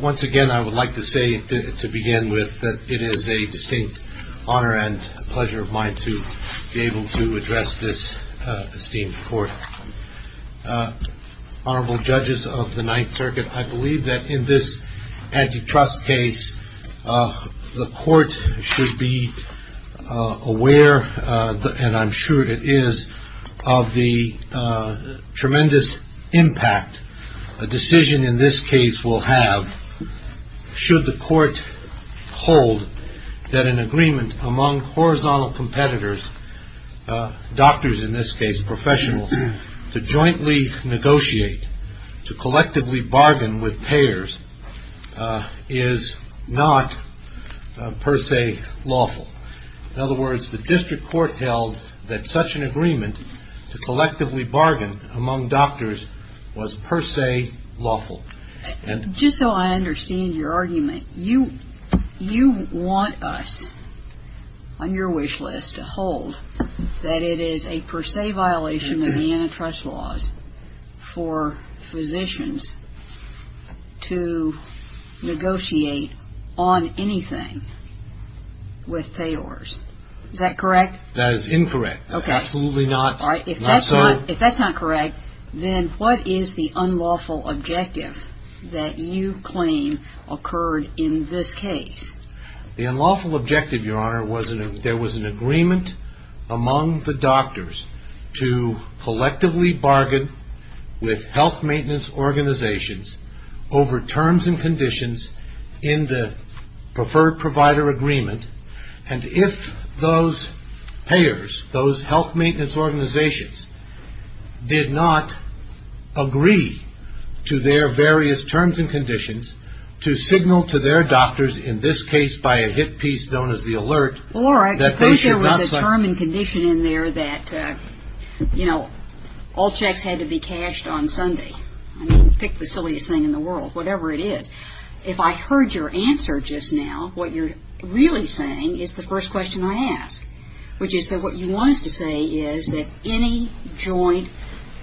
Once again, I would like to say to begin with that it is a distinct honor and pleasure of mine to be able to address this esteemed court. Honorable judges of the Ninth Circuit, I believe that in this antitrust case, the court should be aware, and I'm sure it is, of the tremendous impact a decision in this case will have, should the court hold that an agreement among horizontal competitors, doctors in this case, professionals, to jointly negotiate, to collectively bargain with payers is not per se lawful. In other words, the district court held that such an agreement to collectively bargain among doctors was per se lawful. Just so I understand your argument, you want us on your wish list to hold that it is a per se violation of antitrust laws for physicians to negotiate on anything with payers. Is that correct? That is incorrect. Okay. Absolutely not. All right. If that's not correct, then what is the unlawful objective that you claim occurred in this case? The unlawful objective, your honor, was there was an agreement among the doctors to collectively bargain with health maintenance organizations over terms and conditions in the preferred provider agreement, and if those payers, those health maintenance organizations, did not agree to their various terms and conditions, to signal to their doctors, in this case, by a hit piece known as the alert, that they should not Well, Laura, I suppose there was a term and condition in there that, you know, all checks had to be cashed on Sunday. I mean, pick the silliest thing in the world, whatever it is. If I heard your answer just now, what you're really saying is the first question I ask, which is that what you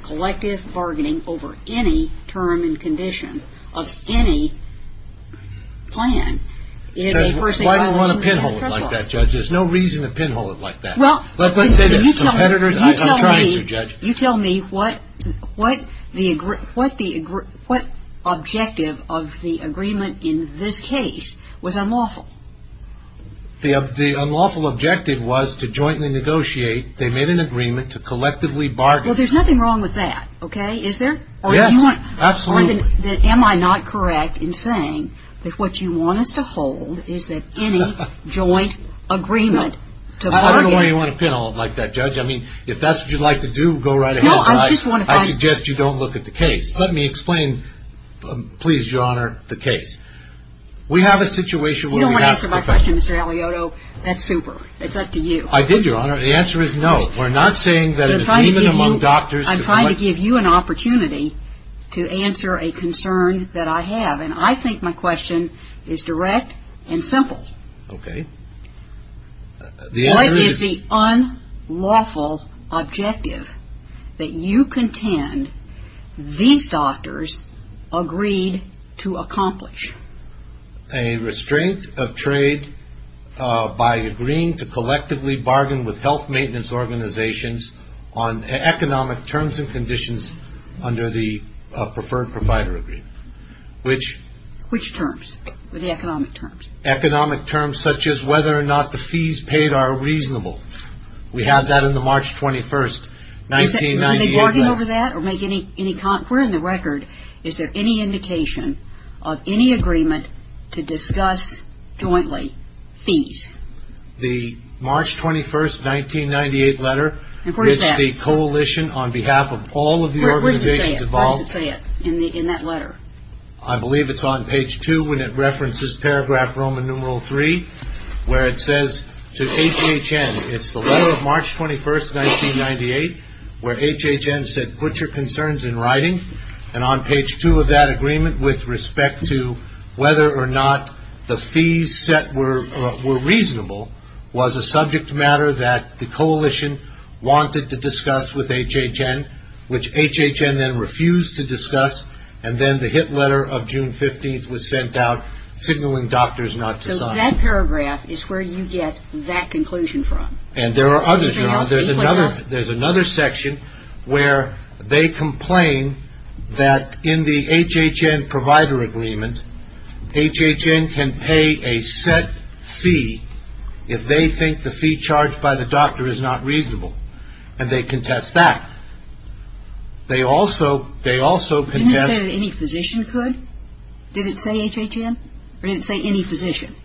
collective bargaining over any term and condition of any plan is a person Why do I want to pinhole it like that, Judge? There's no reason to pinhole it like that. Well Let's say there's competitors You tell me I'm trying to, Judge You tell me what objective of the agreement in this case was unlawful. The unlawful objective was to jointly negotiate. They made an agreement to collectively bargain Well, there's nothing wrong with that, okay? Is there? Yes, absolutely Or am I not correct in saying that what you want us to hold is that any joint agreement to bargain I don't know why you want to pinhole it like that, Judge. I mean, if that's what you'd like to do, go right ahead No, I just want to find I suggest you don't look at the case. Let me explain, please, Your Honor, the case. We have a situation You don't want to answer my question, Mr. Aliotto. That's super. It's up to you I did, Your Honor. The answer is no. We're not saying that I'm trying to give you an opportunity to answer a concern that I have And I think my question is direct and simple Okay What is the unlawful objective that you contend these doctors agreed to accomplish? A restraint of trade by agreeing to collectively bargain with health maintenance organizations on economic terms and conditions under the Preferred Provider Agreement Which? Which terms? The economic terms Economic terms such as whether or not the fees paid are reasonable We had that on the March 21st, 1998 Are they bargaining over that or making any con... We're in the record Is there any indication of any agreement to discuss jointly fees? The March 21st, 1998 letter And where is that? It's the coalition on behalf of all of the organizations involved Where does it say it? Where does it say it in that letter? I believe it's on page 2 when it references paragraph Roman numeral 3 Where it says to HHN It's the letter of March 21st, 1998 Where HHN said put your concerns in writing And on page 2 of that agreement With respect to whether or not the fees set were reasonable Was a subject matter that the coalition wanted to discuss with HHN Which HHN then refused to discuss And then the hit letter of June 15th was sent out Signaling doctors not to sign That paragraph is where you get that conclusion from And there are others, there's another section Where they complain that in the HHN provider agreement HHN can pay a set fee If they think the fee charged by the doctor is not reasonable And they contest that They also contest... Didn't it say that any physician could? Did it say HHN? Or did it say any physician?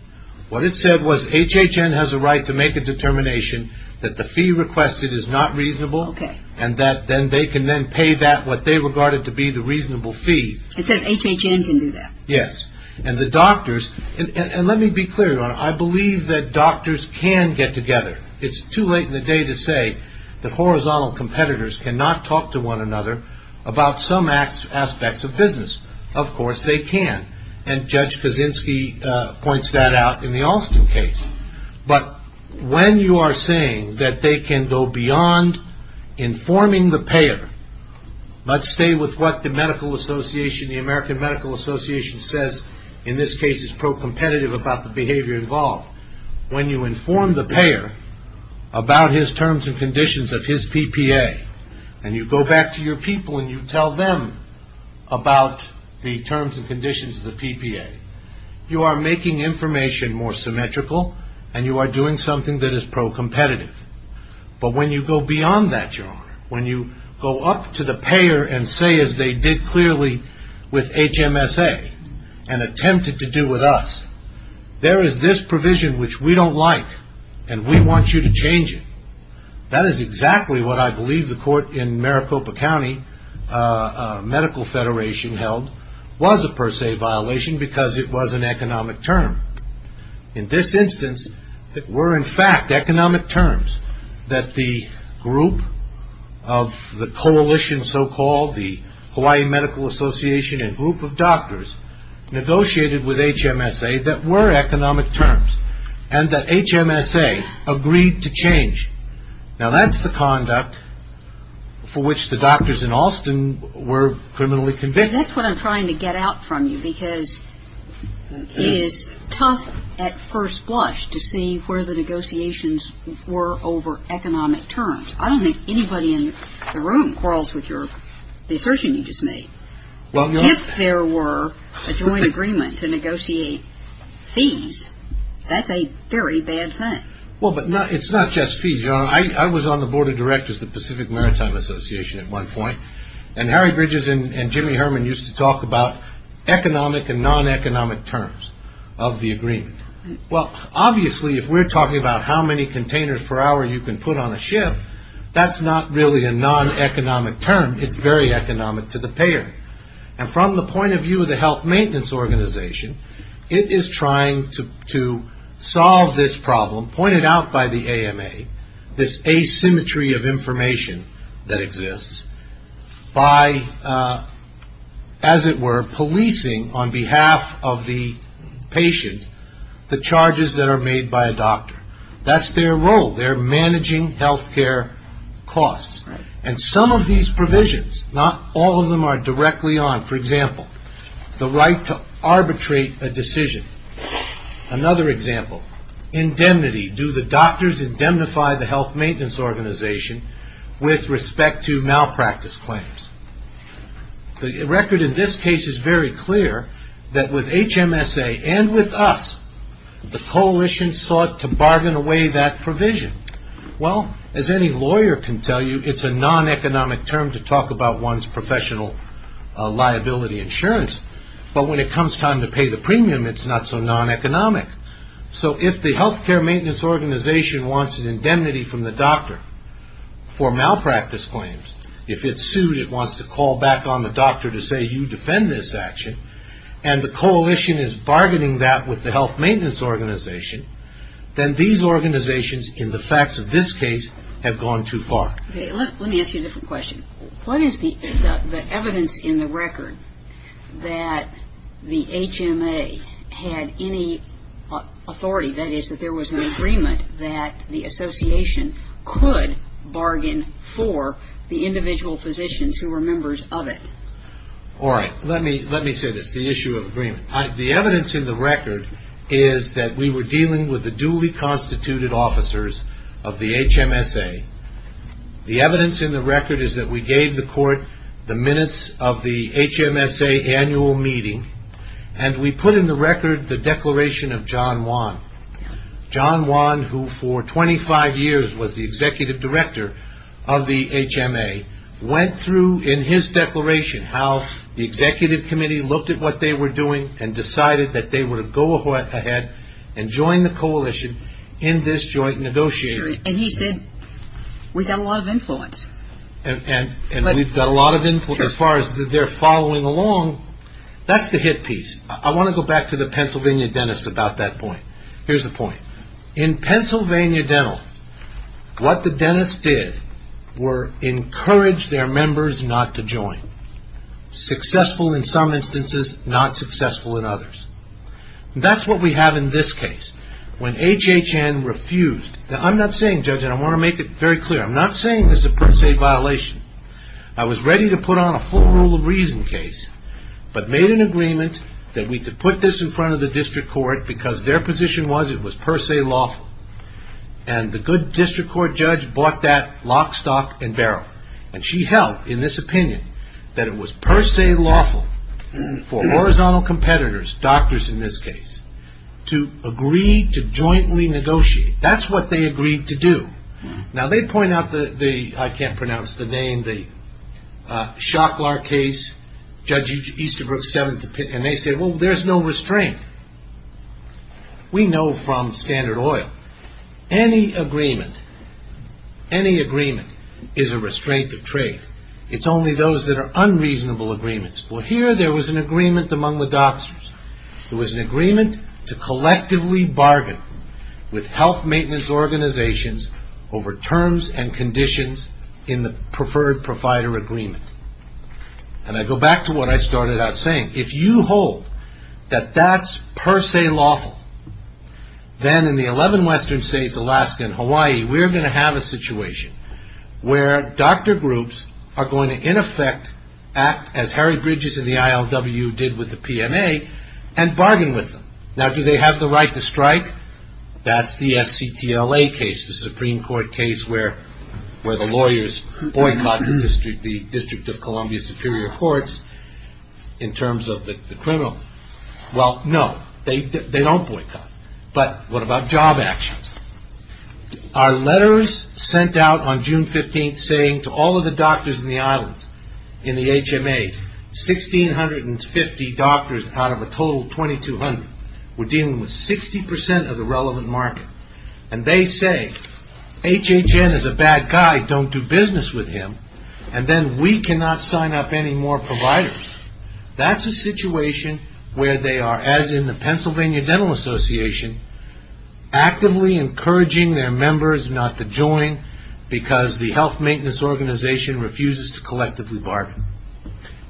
What it said was HHN has a right to make a determination That the fee requested is not reasonable And that they can then pay that What they regarded to be the reasonable fee It says HHN can do that? Yes, and the doctors And let me be clear Your Honor I believe that doctors can get together It's too late in the day to say That horizontal competitors cannot talk to one another About some aspects of business Of course they can And Judge Kaczynski points that out In the Alston case But when you are saying That they can go beyond Informing the payer Let's stay with what the medical association The American Medical Association says In this case it's pro-competitive About the behavior involved When you inform the payer About his terms and conditions Of his PPA And you go back to your people And you tell them About the terms and conditions of the PPA You are making information More symmetrical And you are doing something That is pro-competitive But when you go beyond that When you go up to the payer And say as they did clearly With HMSA And attempted to do with us There is this provision Which we don't like And we want you to change it That is exactly what I believe The court in Maricopa County Medical Federation held Was a per se violation Because it was an economic term In this instance It were in fact economic terms That the group Of the coalition So called the Hawaii Medical Association And group of doctors Negotiated with HMSA That were economic terms And that HMSA Agreed to change Now that is the conduct For which the doctors in Austin Were criminally convicted That is what I am trying to get out from you Because it is tough At first blush To see where the negotiations Were over economic terms I don't think anybody in the room Quarrels with the assertion you just made If there were A joint agreement to negotiate Fees That is a very bad thing It is not just fees I was on the board of directors Of the Pacific Maritime Association And Harry Bridges and Jimmy Herman Used to talk about Economic and non-economic terms Of the agreement Obviously if we are talking about How many containers per hour you can put on a ship That is not really a non-economic term It is very economic To the payer And from the point of view of the health maintenance organization It is trying to Solve this problem Pointed out by the AMA This asymmetry of information That exists By As it were, policing On behalf of the patient The charges that are made By a doctor That is their role They are managing health care costs And some of these provisions Not all of them are directly on For example The right to arbitrate a decision Another example Indemnity Do the doctors indemnify the health maintenance organization With respect to Malpractice claims The record in this case Is very clear That with HMSA and with us The coalition sought to Bargain away that provision Well as any lawyer can tell you It is a non-economic term To talk about one's professional Liability insurance But when it comes time to pay the premium It is not so non-economic So if the health care maintenance organization Wants an indemnity from the doctor For malpractice claims If it is sued It wants to call back on the doctor To say you defend this action And the coalition is bargaining that With the health maintenance organization Then these organizations In the facts of this case Have gone too far Let me ask you a different question What is the evidence in the record That the HMA Had any Authority That is that there was an agreement That the association could Bargain for the individual physicians Who were members of it All right Let me say this The issue of agreement The evidence in the record Is that we were dealing with The duly constituted officers Of the HMSA The evidence in the record Is that we gave the court The minutes of the HMSA annual meeting And we put in the record The declaration of John Wan John Wan Who for 25 years Was the executive director Of the HMA Went through in his declaration How the executive committee Looked at what they were doing And decided that they would go ahead And join the coalition In this joint negotiation And he said We've got a lot of influence And we've got a lot of influence As far as their following along That's the hit piece I want to go back to the Pennsylvania dentist About that point Here's the point In Pennsylvania dental What the dentist did Was encourage their members Not to join Successful in some instances Not successful in others That's what we have in this case When HHN refused Now I'm not saying judge And I want to make it very clear I'm not saying this is a per se violation I was ready to put on a full rule of reason case But made an agreement That we could put this in front of the district court Because their position was It was per se lawful And the good district court judge Bought that lock, stock and barrel And she held in this opinion That it was per se lawful For horizontal competitors Doctors in this case To agree to jointly negotiate That's what they agreed to do Now they point out I can't pronounce the name The Shocklar case Judge Easterbrook And they say well there's no restraint We know We know from Standard Oil Any agreement Any agreement Is a restraint of trade It's only those that are unreasonable agreements Well here there was an agreement among the doctors It was an agreement To collectively bargain With health maintenance organizations Over terms and conditions In the preferred provider agreement And I go back To what I started out saying If you hold That that's per se lawful Then in the 11 western states, Alaska and Hawaii We're going to have a situation Where doctor groups Are going to in effect Act as Harry Bridges and the ILW Did with the PMA And bargain with them Now do they have the right to strike That's the SCTLA case The Supreme Court case Where the lawyers boycotted The District of Columbia Superior Courts In terms of the criminal Well no They don't boycott But what about job actions Our letters sent out On June 15th saying to all of the Doctors in the islands In the HMA 1650 doctors out of a total 2200 were dealing with 60% of the relevant market And they say HHN is a bad guy Don't do business with him And then we cannot sign up Any more providers That's a situation where they are As in the Pennsylvania Dental Association Actively Encouraging their members not to join Because the health maintenance Organization refuses to collectively Bargain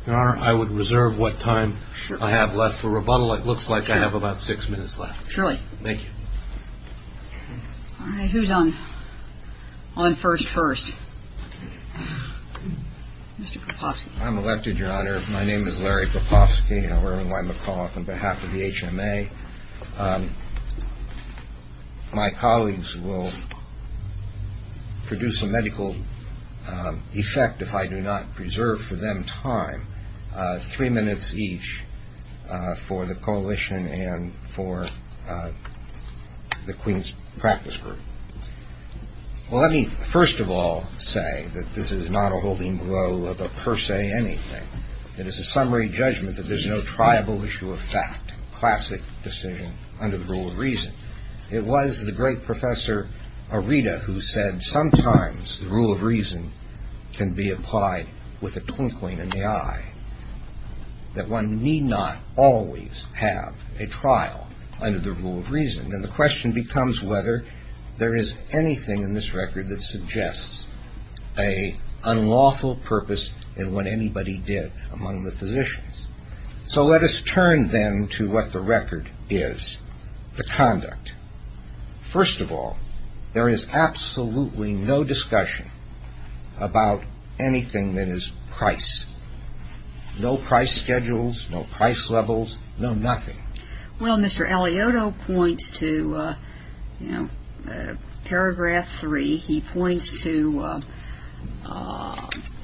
I would reserve what time I have left for rebuttal It looks like I have about 6 minutes left Thank you Who's on On first first Mr. Propofsky I'm elected your honor My name is Larry Propofsky On behalf of the HMA My colleagues will Produce a medical Effect If I do not reserve for them time 3 minutes each For the coalition And for The Queens Practice Group Well let me first of all Say that this is not a Holding blow of a per se anything It is a summary judgment That there is no triable issue of fact Classic decision under the rule of Reason It was the great professor Who said sometimes the rule of reason Can be applied With a twinkling in the eye That one need not Always have a trial Under the rule of reason And the question becomes whether There is anything in this record That suggests a Unlawful purpose in what Anybody did among the physicians So let us turn then To what the record is The conduct First of all There is absolutely no discussion About anything That is price No price schedules No price levels No nothing Well Mr. Alioto points to You know Paragraph 3 He points to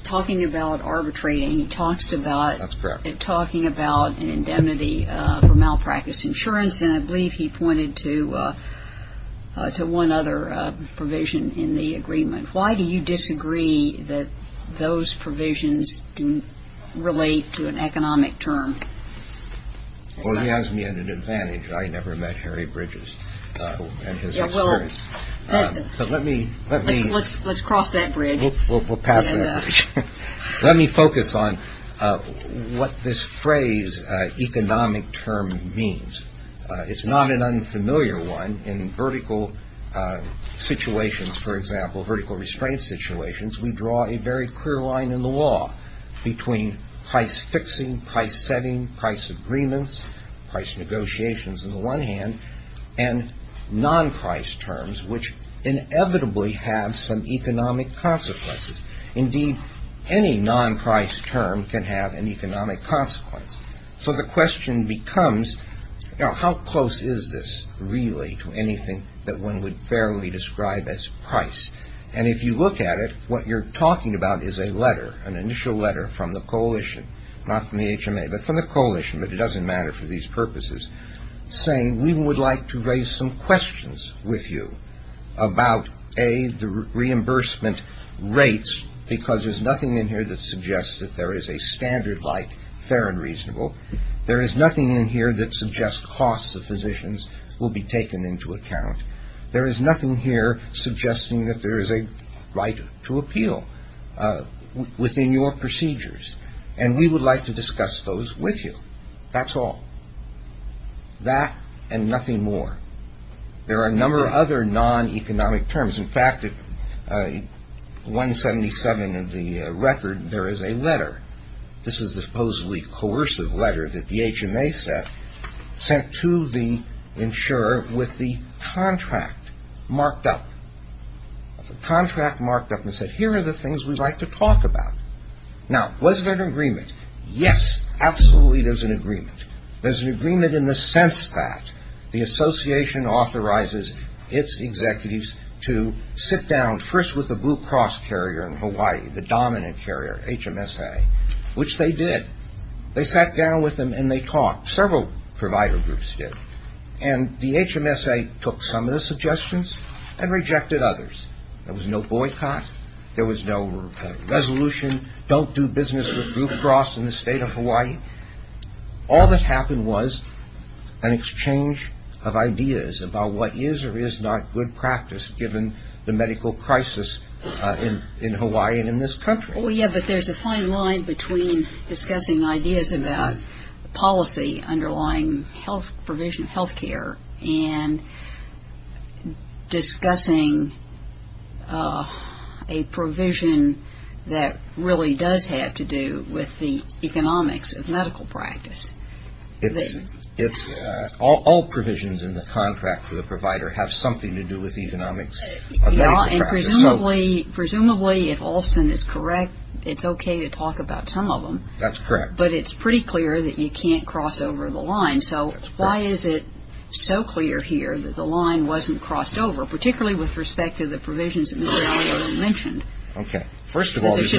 Talking about arbitrating He talks about Talking about indemnity For malpractice insurance And I believe he pointed to To one other provision In the agreement Why do you disagree That those provisions Relate to an economic Term Well he has me at an advantage I never met Harry Bridges In his experience Let's cross that bridge We'll pass that bridge Let me focus on What this phrase Economic term means It's not an unfamiliar One in vertical Situations for example Vertical restraint situations We draw a very clear line in the law Between price fixing Price setting Price agreements Price negotiations And non-price terms Which inevitably have some Economic consequences Indeed any non-price term Can have an economic consequence So the question becomes How close is this Really to anything That one would fairly describe as price And if you look at it What you're talking about is a letter An initial letter from the coalition Not from the HMA but from the coalition But it doesn't matter for these purposes Saying we would like to raise some Questions with you About A the reimbursement Rates Because there's nothing in here that suggests That there is a standard like Fair and reasonable There is nothing in here that suggests costs Of physicians will be taken into account There is nothing here suggesting That there is a right To appeal Within your procedures And we would like to discuss those with you That's all That and nothing more There are a number of other Non-economic terms In fact at 177 Of the record there is a letter This is the supposedly Coercive letter that the HMA sent Sent to the insurer With the contract Marked up The contract marked up and said here are the things We'd like to talk about Now was there an agreement Yes absolutely there's an agreement There's an agreement in the sense that The association authorizes Its executives To sit down first with the Blue Cross Carrier in Hawaii The dominant carrier HMSA Which they did They sat down with them and they talked Several provider groups did And the HMSA Took some of the suggestions And rejected others There was no boycott There was no resolution Don't do business with Blue Cross In the state of Hawaii All that happened was An exchange of ideas About what is or is not good practice Given the medical crisis In Hawaii and in this country Oh yeah but there's a fine line Between discussing ideas about Policy underlying Health provision healthcare And Discussing A provision That really does Have to do with the Economics of medical practice It's All provisions in the contract For the provider have something to do with Economics of medical practice Presumably if Alston is correct It's okay to talk about some of them That's correct But it's pretty clear that you can't cross over the line So why is it so clear Here that the line wasn't crossed over Particularly with respect to the provisions That Mr. Alliott mentioned First of all There's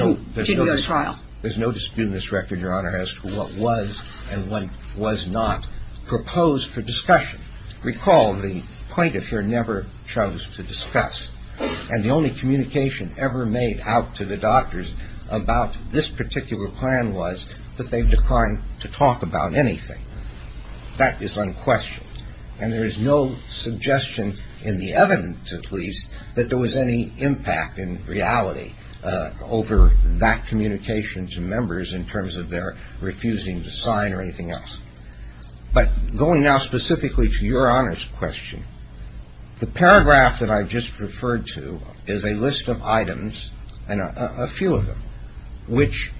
no dispute in this record As to what was and what was not Proposed for discussion Recall the plaintiff here Never chose to discuss And the only communication Ever made out to the doctors About this particular plan Was that they declined to talk About anything That is unquestioned And there is no suggestion In the evidence at least That there was any impact in reality Over that communication To members in terms of their Refusing to sign or anything else But going now specifically To your honors question The paragraph that I just Referred to is a list of items And a few of them Which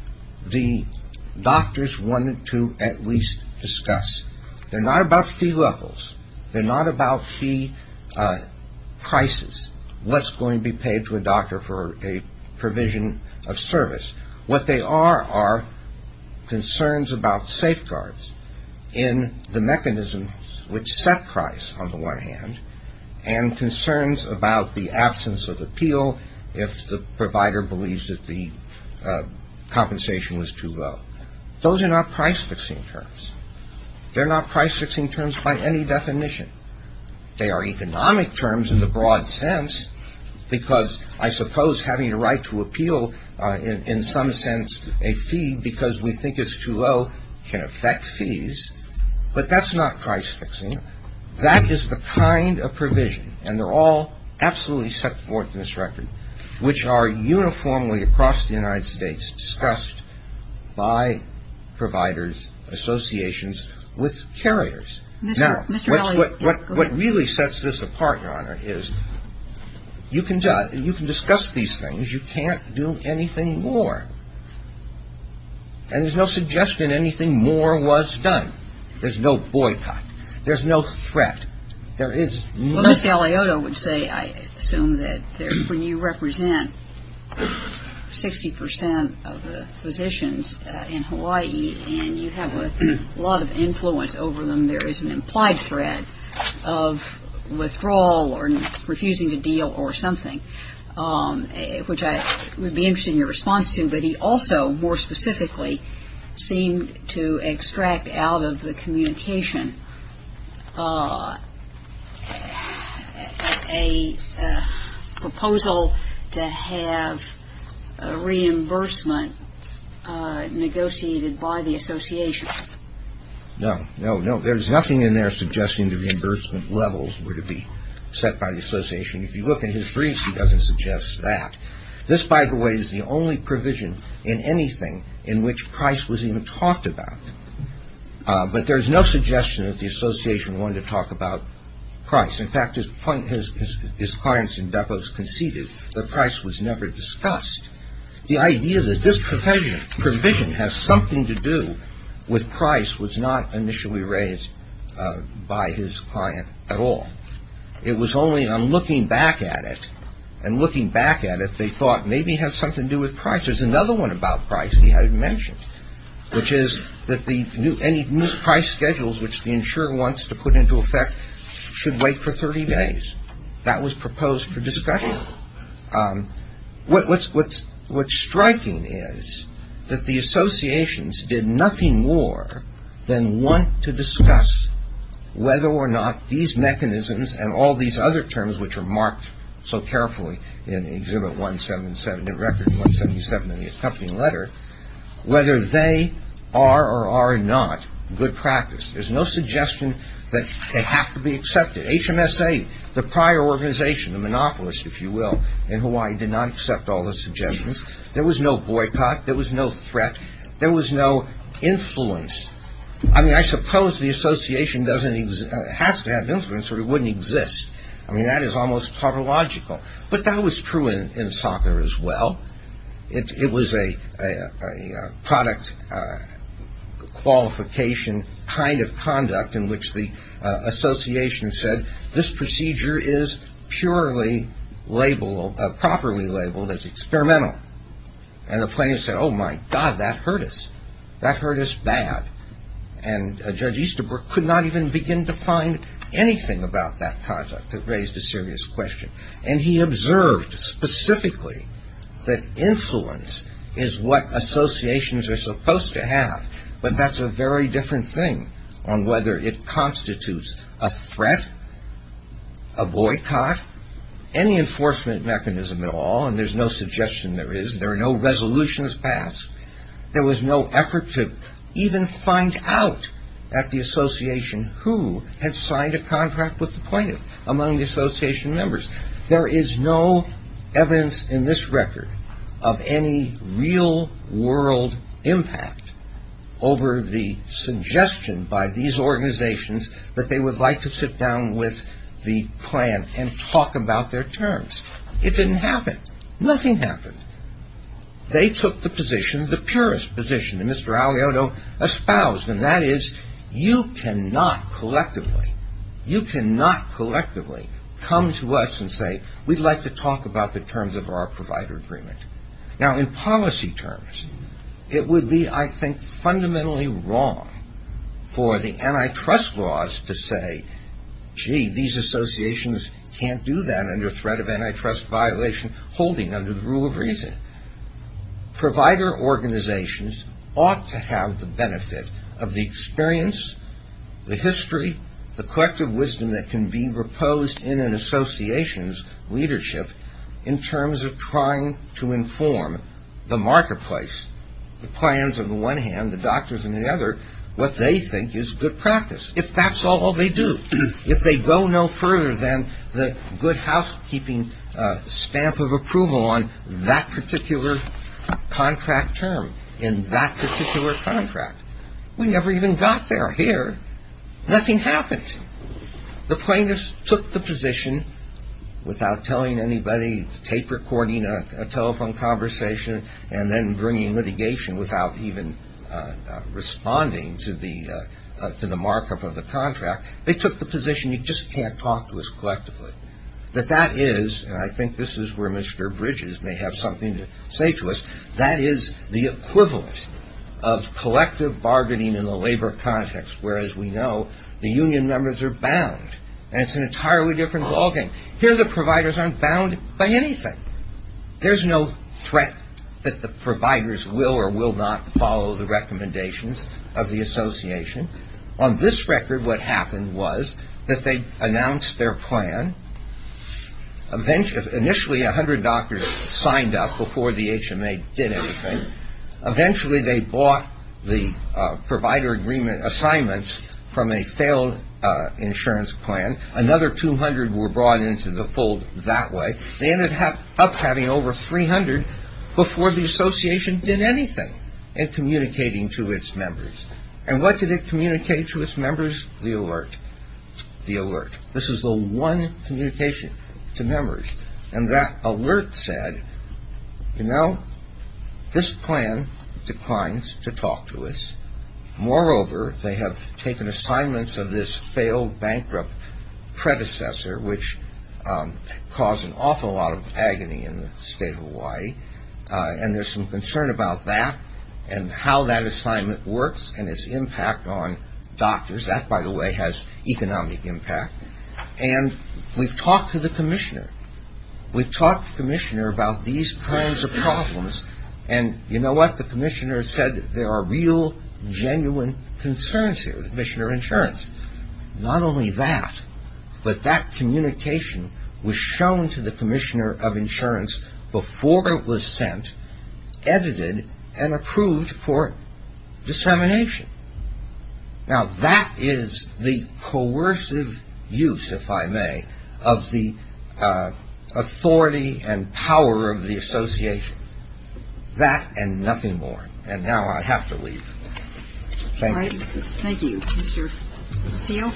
the Doctors wanted to At least discuss They're not about fee levels They're not about fee Prices What's going to be paid to a doctor For a provision of service What they are are Concerns about safeguards In the mechanism Which set price on the one hand And concerns about The absence of appeal If the provider believes that the Compensation was too low Those are not price fixing Terms They're not price fixing terms by any definition They are economic terms In the broad sense Because I suppose having a right to Appeal in some sense A fee because we think it's too low Can affect fees But that's not price fixing That is the kind of provision And they're all absolutely Set forth in this record Which are uniformly across the United States Discussed by Providers Associations with carriers Now what Really sets this apart Is you can Discuss these things You can't do anything more And there's no suggestion Anything more was done There's no boycott There's no threat There is no I assume that When you represent 60% of the Physicians in Hawaii And you have a lot of influence Over them there is an implied threat Of withdrawal Or refusing to deal Or something Which I would be interested in your response to But he also more specifically Seemed to extract Out of the communication A proposal To have Reimbursement Negotiated by the Association No there is nothing in there suggesting The reimbursement levels were to be Set by the association If you look in his briefs he doesn't suggest that This by the way is the only provision In anything in which price Was even talked about But there is no suggestion that the Association wanted to talk about Price in fact his Clients in depots conceded That price was never discussed The idea that this provision Has something to do With price was not initially Raised by his Client at all It was only on looking back at it And looking back at it they thought Maybe it has something to do with price There is another one about price he hadn't mentioned Which is that any Price schedules which the insurer Wants to put into effect Should wait for 30 days That was proposed for discussion What's Striking is That the associations did nothing More than want To discuss whether or not These mechanisms and all these Other terms which are marked So carefully in exhibit 177 the record 177 In the accompanying letter Whether they are or are Not good practice there is no Suggestion that they have to be Accepted HMSA the prior Organization the monopolist if you will In Hawaii did not accept all the suggestions There was no boycott There was no threat there was no Influence I suppose the association Has to have an influence or it wouldn't exist I mean that is almost Paralogical but that was true in soccer As well It was a Product Qualification kind of conduct In which the association Said this procedure is Purely labeled Properly labeled as experimental And the plaintiffs said Oh my god that hurt us That hurt us bad And judge Easterbrook could not even begin To find anything about that Conduct that raised a serious question And he observed specifically That influence Is what associations Are supposed to have But that is a very different thing On whether it constitutes a threat A boycott Any enforcement Mechanism at all and there is no suggestion There is there are no resolutions Passed there was no effort to Even find out At the association who Had signed a contract with the plaintiffs Among the association members There is no evidence In this record of any Real world Impact over the Suggestion by these Organizations that they would like to sit Down with the plan And talk about their terms It didn't happen nothing happened They took the position The purest position that Mr. Alioto Espoused and that is You cannot collectively You cannot collectively Come to us and say We'd like to talk about the terms of our Provider agreement Now in policy terms It would be I think fundamentally wrong For the antitrust Laws to say Gee these associations can't do That under threat of antitrust violation Holding under the rule of reason Provider Organizations ought to have The benefit of the experience The history The collective wisdom that can be reposed In an association's Leadership in terms of Trying to inform The marketplace The plans on the one hand the doctors on the other What they think is good practice If that's all they do If they go no further than The good housekeeping Stamp of approval on that Particular contract term In that particular contract We never even got there Here nothing happened The plaintiffs took the Position without Telling anybody tape recording A telephone conversation And then bringing litigation without Even responding To the markup Of the contract they took the position You just can't talk to us collectively That that is and I think this is Where Mr. Bridges may have something To say to us that is the Equivalent of collective Bargaining in the labor context Where as we know the union members Are bound and it's an entirely Different ball game here the providers aren't Bound by anything There's no threat that the Providers will or will not follow The recommendations of the Association on this record What happened was that they Announced their plan Initially 100 doctors signed up before The HMA did anything Eventually they bought the Provider agreement assignments From a failed Insurance plan another 200 Were brought into the fold that way They ended up having over 300 before the association Did anything in Communicating to its members And what did it communicate to its members The alert This is the one Communication to members And that alert said You know This plan declines To talk to us Moreover they have taken assignments Of this failed bankrupt Predecessor which Caused an awful lot of Agony in the state of Hawaii And there's some concern about that And how that assignment Works and its impact on Doctors that by the way has Economic impact and We've talked to the commissioner We've talked to the commissioner about These kinds of problems And you know what the commissioner said There are real genuine Concerns here the commissioner of insurance Not only that But that communication Was shown to the commissioner of Insurance before it was Sent edited And approved for Dissemination Now that is the Coercive use If I may of the Authority and Power of the association That and nothing more And now I have to leave Thank you Thank you Mr. Castillo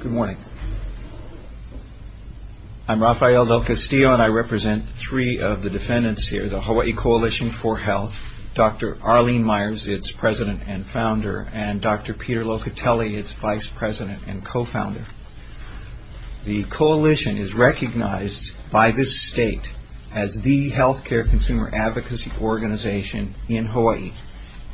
Good morning I'm Rafael Del Castillo And I represent three of the defendants here The Hawaii Coalition for Health Dr. Arlene Myers, its President and founder and Dr. Peter Locatelli, its vice president And co-founder The coalition is recognized by this state as the healthcare consumer advocacy organization in Hawaii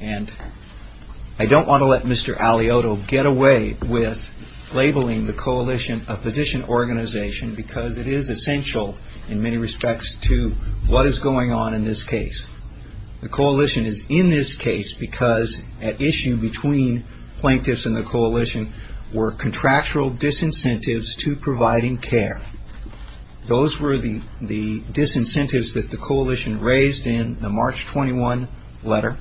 I don't want to let Mr. Alioto get away with labeling the coalition a position organization because it is essential in many respects to what is going on in this case The coalition is in this case because at issue between plaintiffs and the coalition were contractual disincentives to providing care Those were the disincentives that the coalition raised in the March 21 letter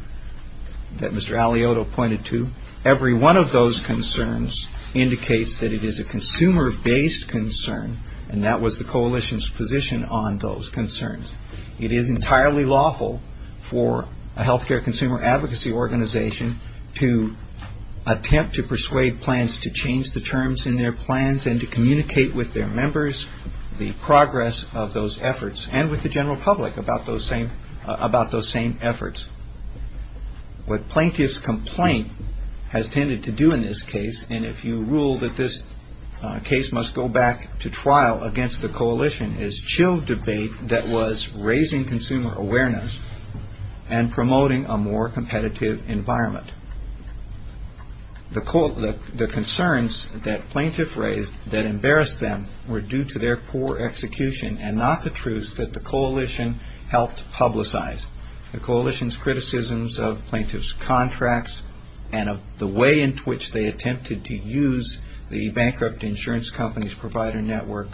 that Mr. Alioto pointed to. Every one of those concerns indicates that it is a consumer based concern and that was the coalition's position on those concerns It is entirely lawful for a healthcare consumer advocacy organization to attempt to persuade plans to change the terms in their plans and to communicate with their members the progress of those efforts and with the general public about those same about those same efforts What plaintiff's complaint has tended to do in this case, and if you rule that this case must go back to trial against the coalition is chill debate that was raising consumer awareness and promoting a more competitive environment The concerns that plaintiff raised that embarrassed them were due to their poor execution and not the truth that the coalition helped publicize The coalition's criticisms of plaintiff's contracts and of the way in which they attempted to use the bankrupt insurance company's provider network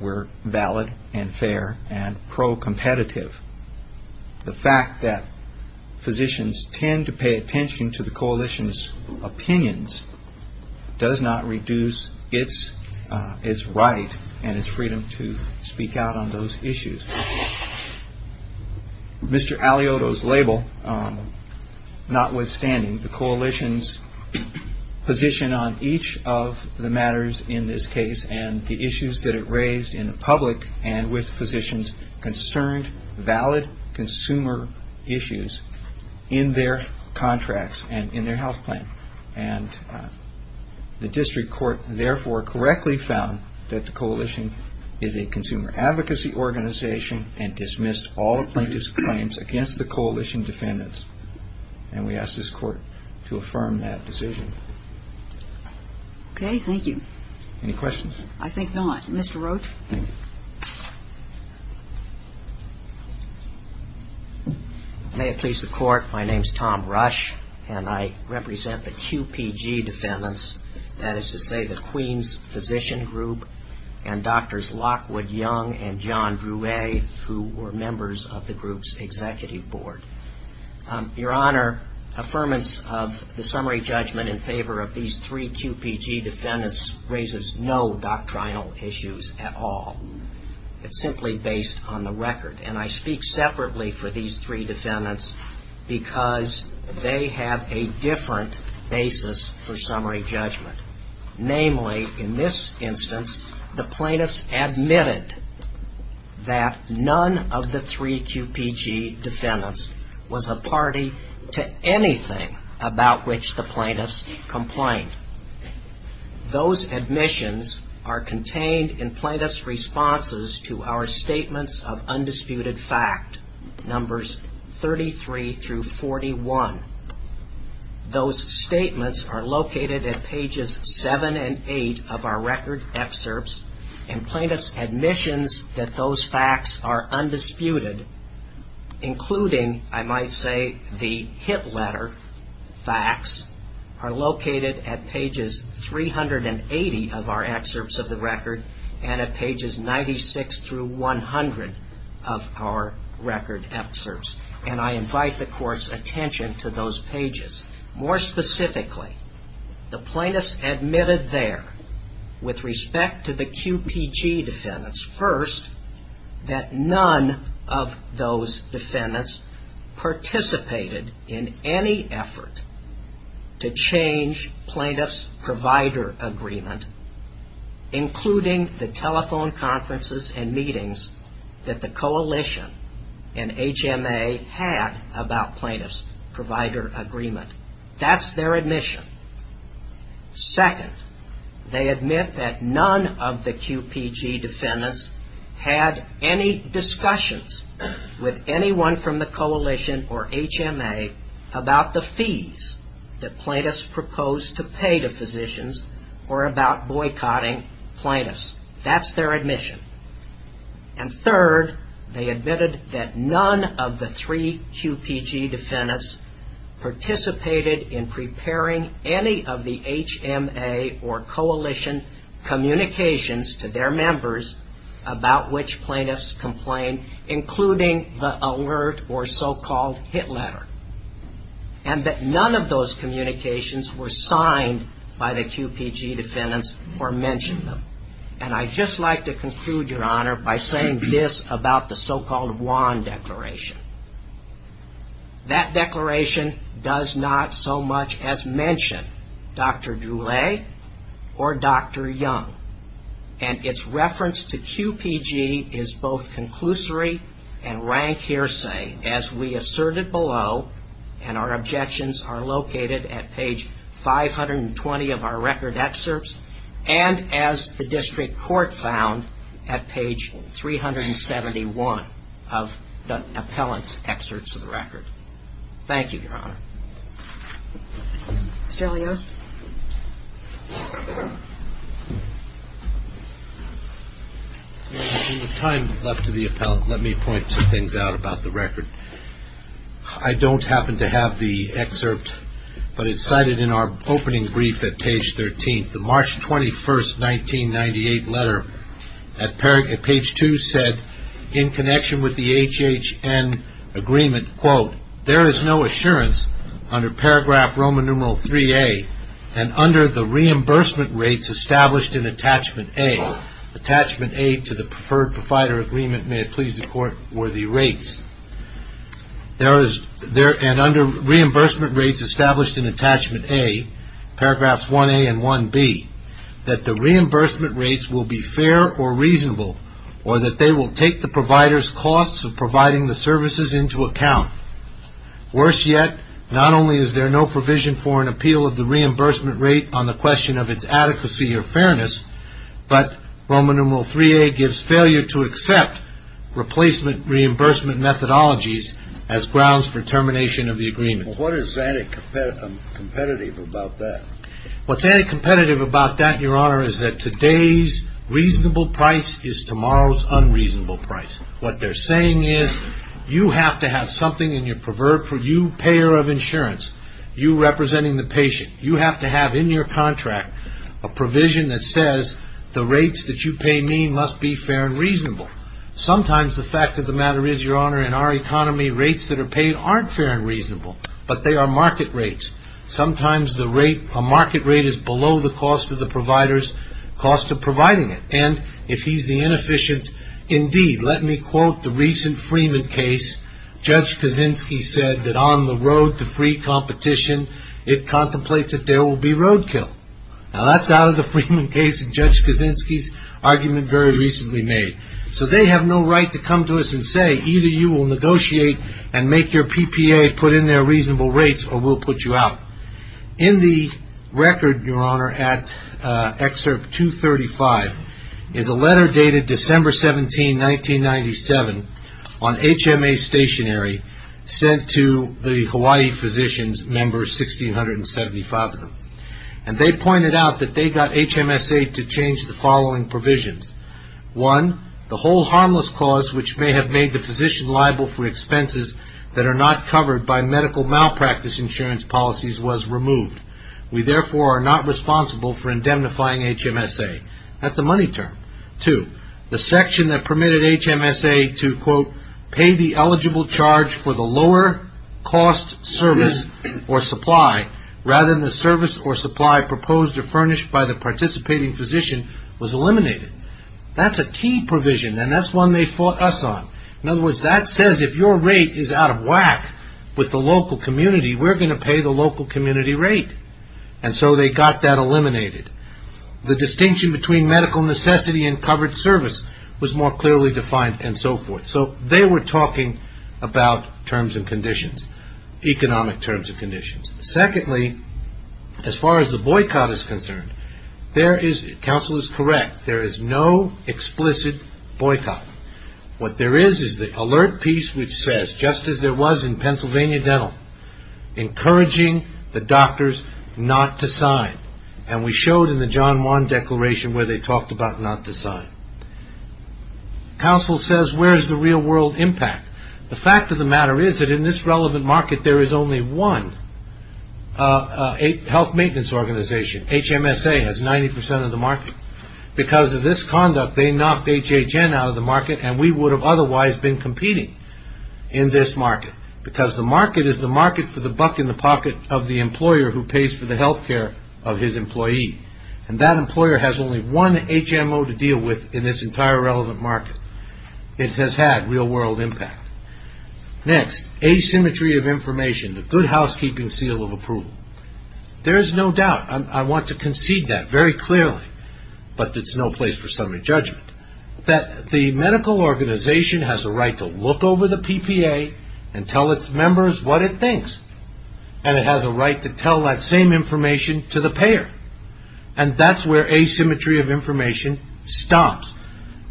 were valid and fair and pro-competitive The fact that physicians tend to pay attention to the coalition's opinions does not reduce its right and its freedom to speak out on those issues Mr. Aliotto's label notwithstanding the coalition's position on each of the matters in this case and the issues that it raised in the public and with physicians concerned valid consumer issues in their contracts and in their health plan The district court therefore correctly found that the coalition is a consumer advocacy organization and dismissed all plaintiff's claims against the coalition defendants and we ask this court to affirm that decision Okay, thank you Any questions? I think not. Mr. Roach? May it please the court My name's Tom Rush and I represent the QPG defendants, that is to say the Queens Physician Group and Doctors Lockwood Young and John Bruet who were members of the group's executive board Your Honor Affirmance of the summary judgment in favor of these three QPG defendants raises no doctrinal issues at all It's simply based on the record and I speak separately for these three defendants because they have a different basis for summary judgment. Namely in this instance the plaintiffs admitted that none of the three QPG defendants was a party to anything about which the plaintiffs complained Those admissions are contained in plaintiffs' responses to our statements of undisputed fact numbers 33 through 41 Those statements are located at pages 7 and 8 of our record excerpts and plaintiffs' admissions that those facts are undisputed including I might say the hit letter facts are located at pages 380 of our record excerpts and I invite the Court's attention to those pages More specifically the plaintiffs admitted there with respect to the QPG defendants first that none of those defendants participated in any effort to change plaintiffs' provider agreement including the telephone conferences and meetings that the Coalition and HMA had about plaintiffs' provider agreement. That's their admission Second they admit that none of the QPG defendants had any discussions with anyone from the Coalition or HMA about the fees that plaintiffs proposed to pay to physicians or about that's their admission and third they admitted that none of the three QPG defendants participated in preparing any of the HMA or Coalition communications to their members about which plaintiffs complained including the alert or so-called hit letter and that none of those communications were signed by the QPG defendants or mentioned them and I'd just like to conclude, Your Honor by saying this about the so-called Wan Declaration that declaration does not so much as mention Dr. Droulet or Dr. Young and its reference to QPG is both conclusory and rank hearsay as we asserted below and our objections are located at page 520 of our record excerpts and as the District Court found at page 371 of the appellant's excerpts of the record Thank you, Your Honor Mr. Leone In the time left to the appellant, let me point two things out about the record I don't happen to have the opening brief at page 13 the March 21st, 1998 letter at page 2 said in connection with the HHN agreement, quote, there is no assurance under paragraph Roman numeral 3A and under the reimbursement rates established in attachment A attachment A to the preferred provider agreement, may it please the court, were the rates and under reimbursement rates established in attachment A paragraphs 1A and 1B that the reimbursement rates will be fair or reasonable or that they will take the provider's costs of providing the services into account. Worse yet not only is there no provision for an appeal of the reimbursement rate on the question of its adequacy or fairness but Roman numeral 3A gives failure to accept replacement reimbursement methodologies as grounds for termination of the agreement. What is anti-competitive about that? What's anti-competitive about that, your honor, is that today's reasonable price is tomorrow's unreasonable price. What they're saying is you have to have something in your preferred payer of insurance, you representing the patient, you have to have in your contract a provision that must be fair and reasonable. Sometimes the fact of the matter is, your honor in our economy, rates that are paid aren't fair and reasonable, but they are market rates. Sometimes a market rate is below the cost of the provider's cost of providing it. And if he's the inefficient indeed, let me quote the recent Freeman case, Judge Kaczynski said that on the road to free competition it contemplates that there will be roadkill. Now that's out of the Freeman case and Judge Kaczynski's argument very recently made. So they have no right to come to us and say either you will negotiate and make your PPA put in their reasonable rates or we'll put you out. In the record, your honor, at excerpt 235 is a letter dated December 17, 1997 on HMA stationary sent to the Hawaii physicians, member 1675 of them. And they pointed out that they got HMSA to change the following provisions. One, the whole harmless cause which may have made the physician liable for expenses that are not covered by medical malpractice insurance policies was removed. We therefore are not responsible for indemnifying HMSA. That's a money term. Two, the section that permitted HMSA to quote, pay the eligible charge for the lower cost service or supply rather than the service or supply proposed or furnished by the participating physician was eliminated. That's a key provision and that's one they fought us on. In other words, that says if your rate is out of whack with the local community, we're going to pay the local community rate. And so they got that eliminated. The distinction between medical necessity and covered service was more clearly defined and so forth. So they were talking about terms and conditions, economic terms and conditions. Secondly, as far as the boycott is concerned, there is, counsel is correct, there is no explicit boycott. What there is is the alert piece which says, just as there was in Pennsylvania Dental, encouraging the doctors not to sign. And we showed in the John Wan Declaration where they talked about not to sign. Counsel says where's the real world impact? The fact of the matter is that in this relevant market there is only one health maintenance organization. HMSA has 90% of the market. Because of this conduct they knocked HHN out of the market and we would have otherwise been competing in this market. Because the market is the market for the buck in the pocket of the employer who pays for the health care of his employee. And that employer has only one HMO to deal with in this entire relevant market. It has had real world impact. Next, asymmetry of information. The good housekeeping seal of approval. There is no doubt. I want to concede that very clearly. But it's no place for summary judgment. That the medical organization has a right to look over the PPA and tell its members what it thinks. And it has a right to tell that same information to the payer. And that's where asymmetry of information stops.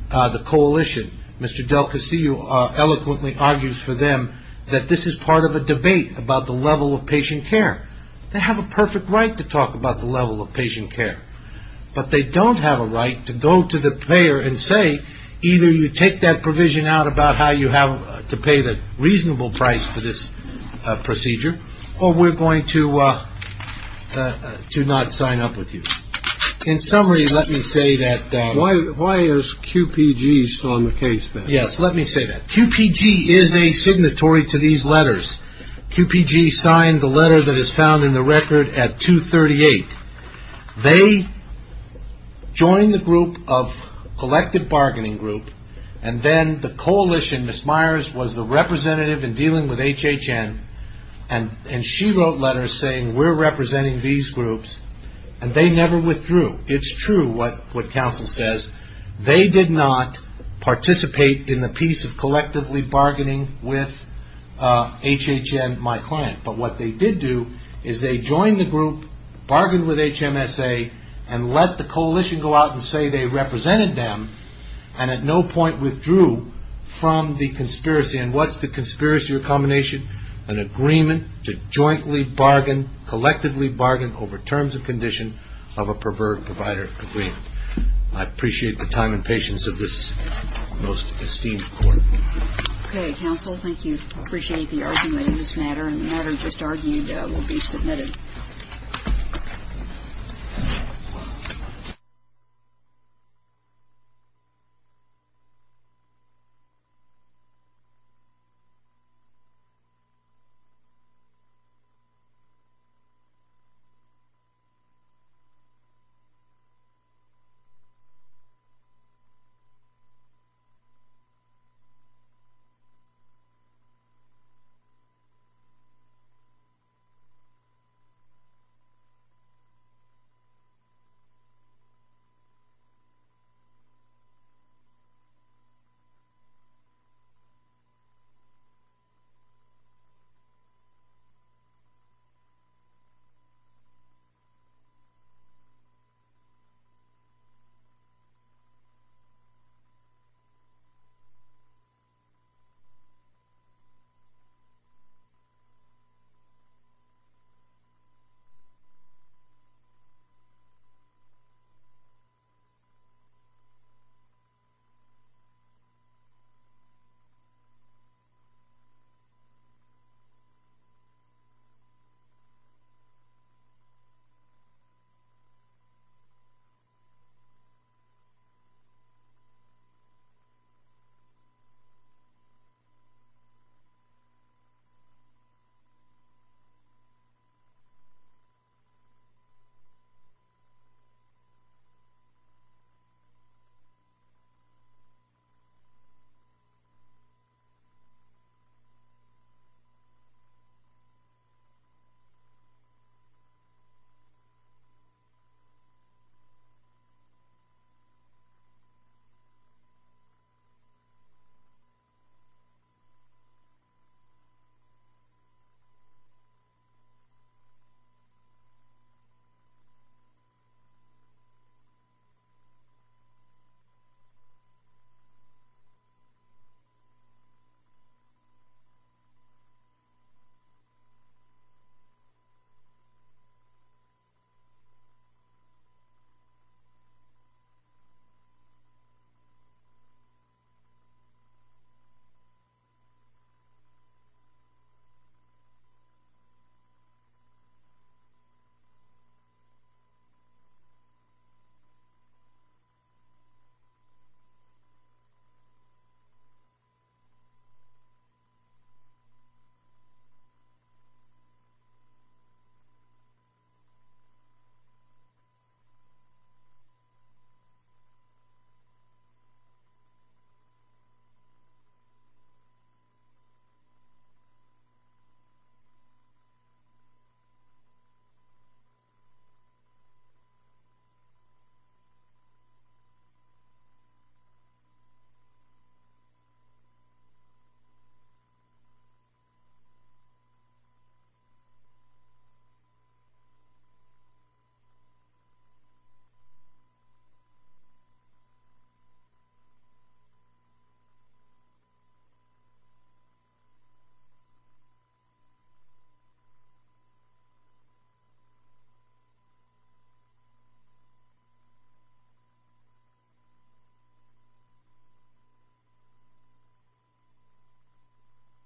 The coalition, Mr. Del Cossio eloquently argues for them that this is part of a debate about the level of patient care. They have a perfect right to talk about the level of patient care. But they don't have a right to go to the payer and say, either you take that provision out about how you have to pay the reasonable price for this procedure, or we're going to not sign up with you. In summary, let me say that Why is QPG still in the case? Yes, let me say that. QPG is a signatory to these letters. QPG signed the letter that is found in the record at 238. They joined the group of Collected Bargaining Group, and then the coalition, Ms. Myers, was the representative in dealing with HHN. And she wrote letters saying, we're representing these groups. And they never withdrew. It's true what counsel says. They did not participate in the piece of collectively bargaining with HHN, my client. But what they did do is they joined the group, bargained with HMSA, and let the coalition go out and say they represented them, and at no point withdrew from the conspiracy. And what's the conspiracy recombination? An agreement to jointly bargain, collectively bargain over terms and conditions of a preferred provider agreement. I appreciate the time and patience of this most esteemed court. Okay, counsel. Thank you. I appreciate the argument in this matter. And the matter just argued will be submitted. Thank you. Thank you. Thank you. Thank you. Thank you. Thank you. Thank you. Thank you.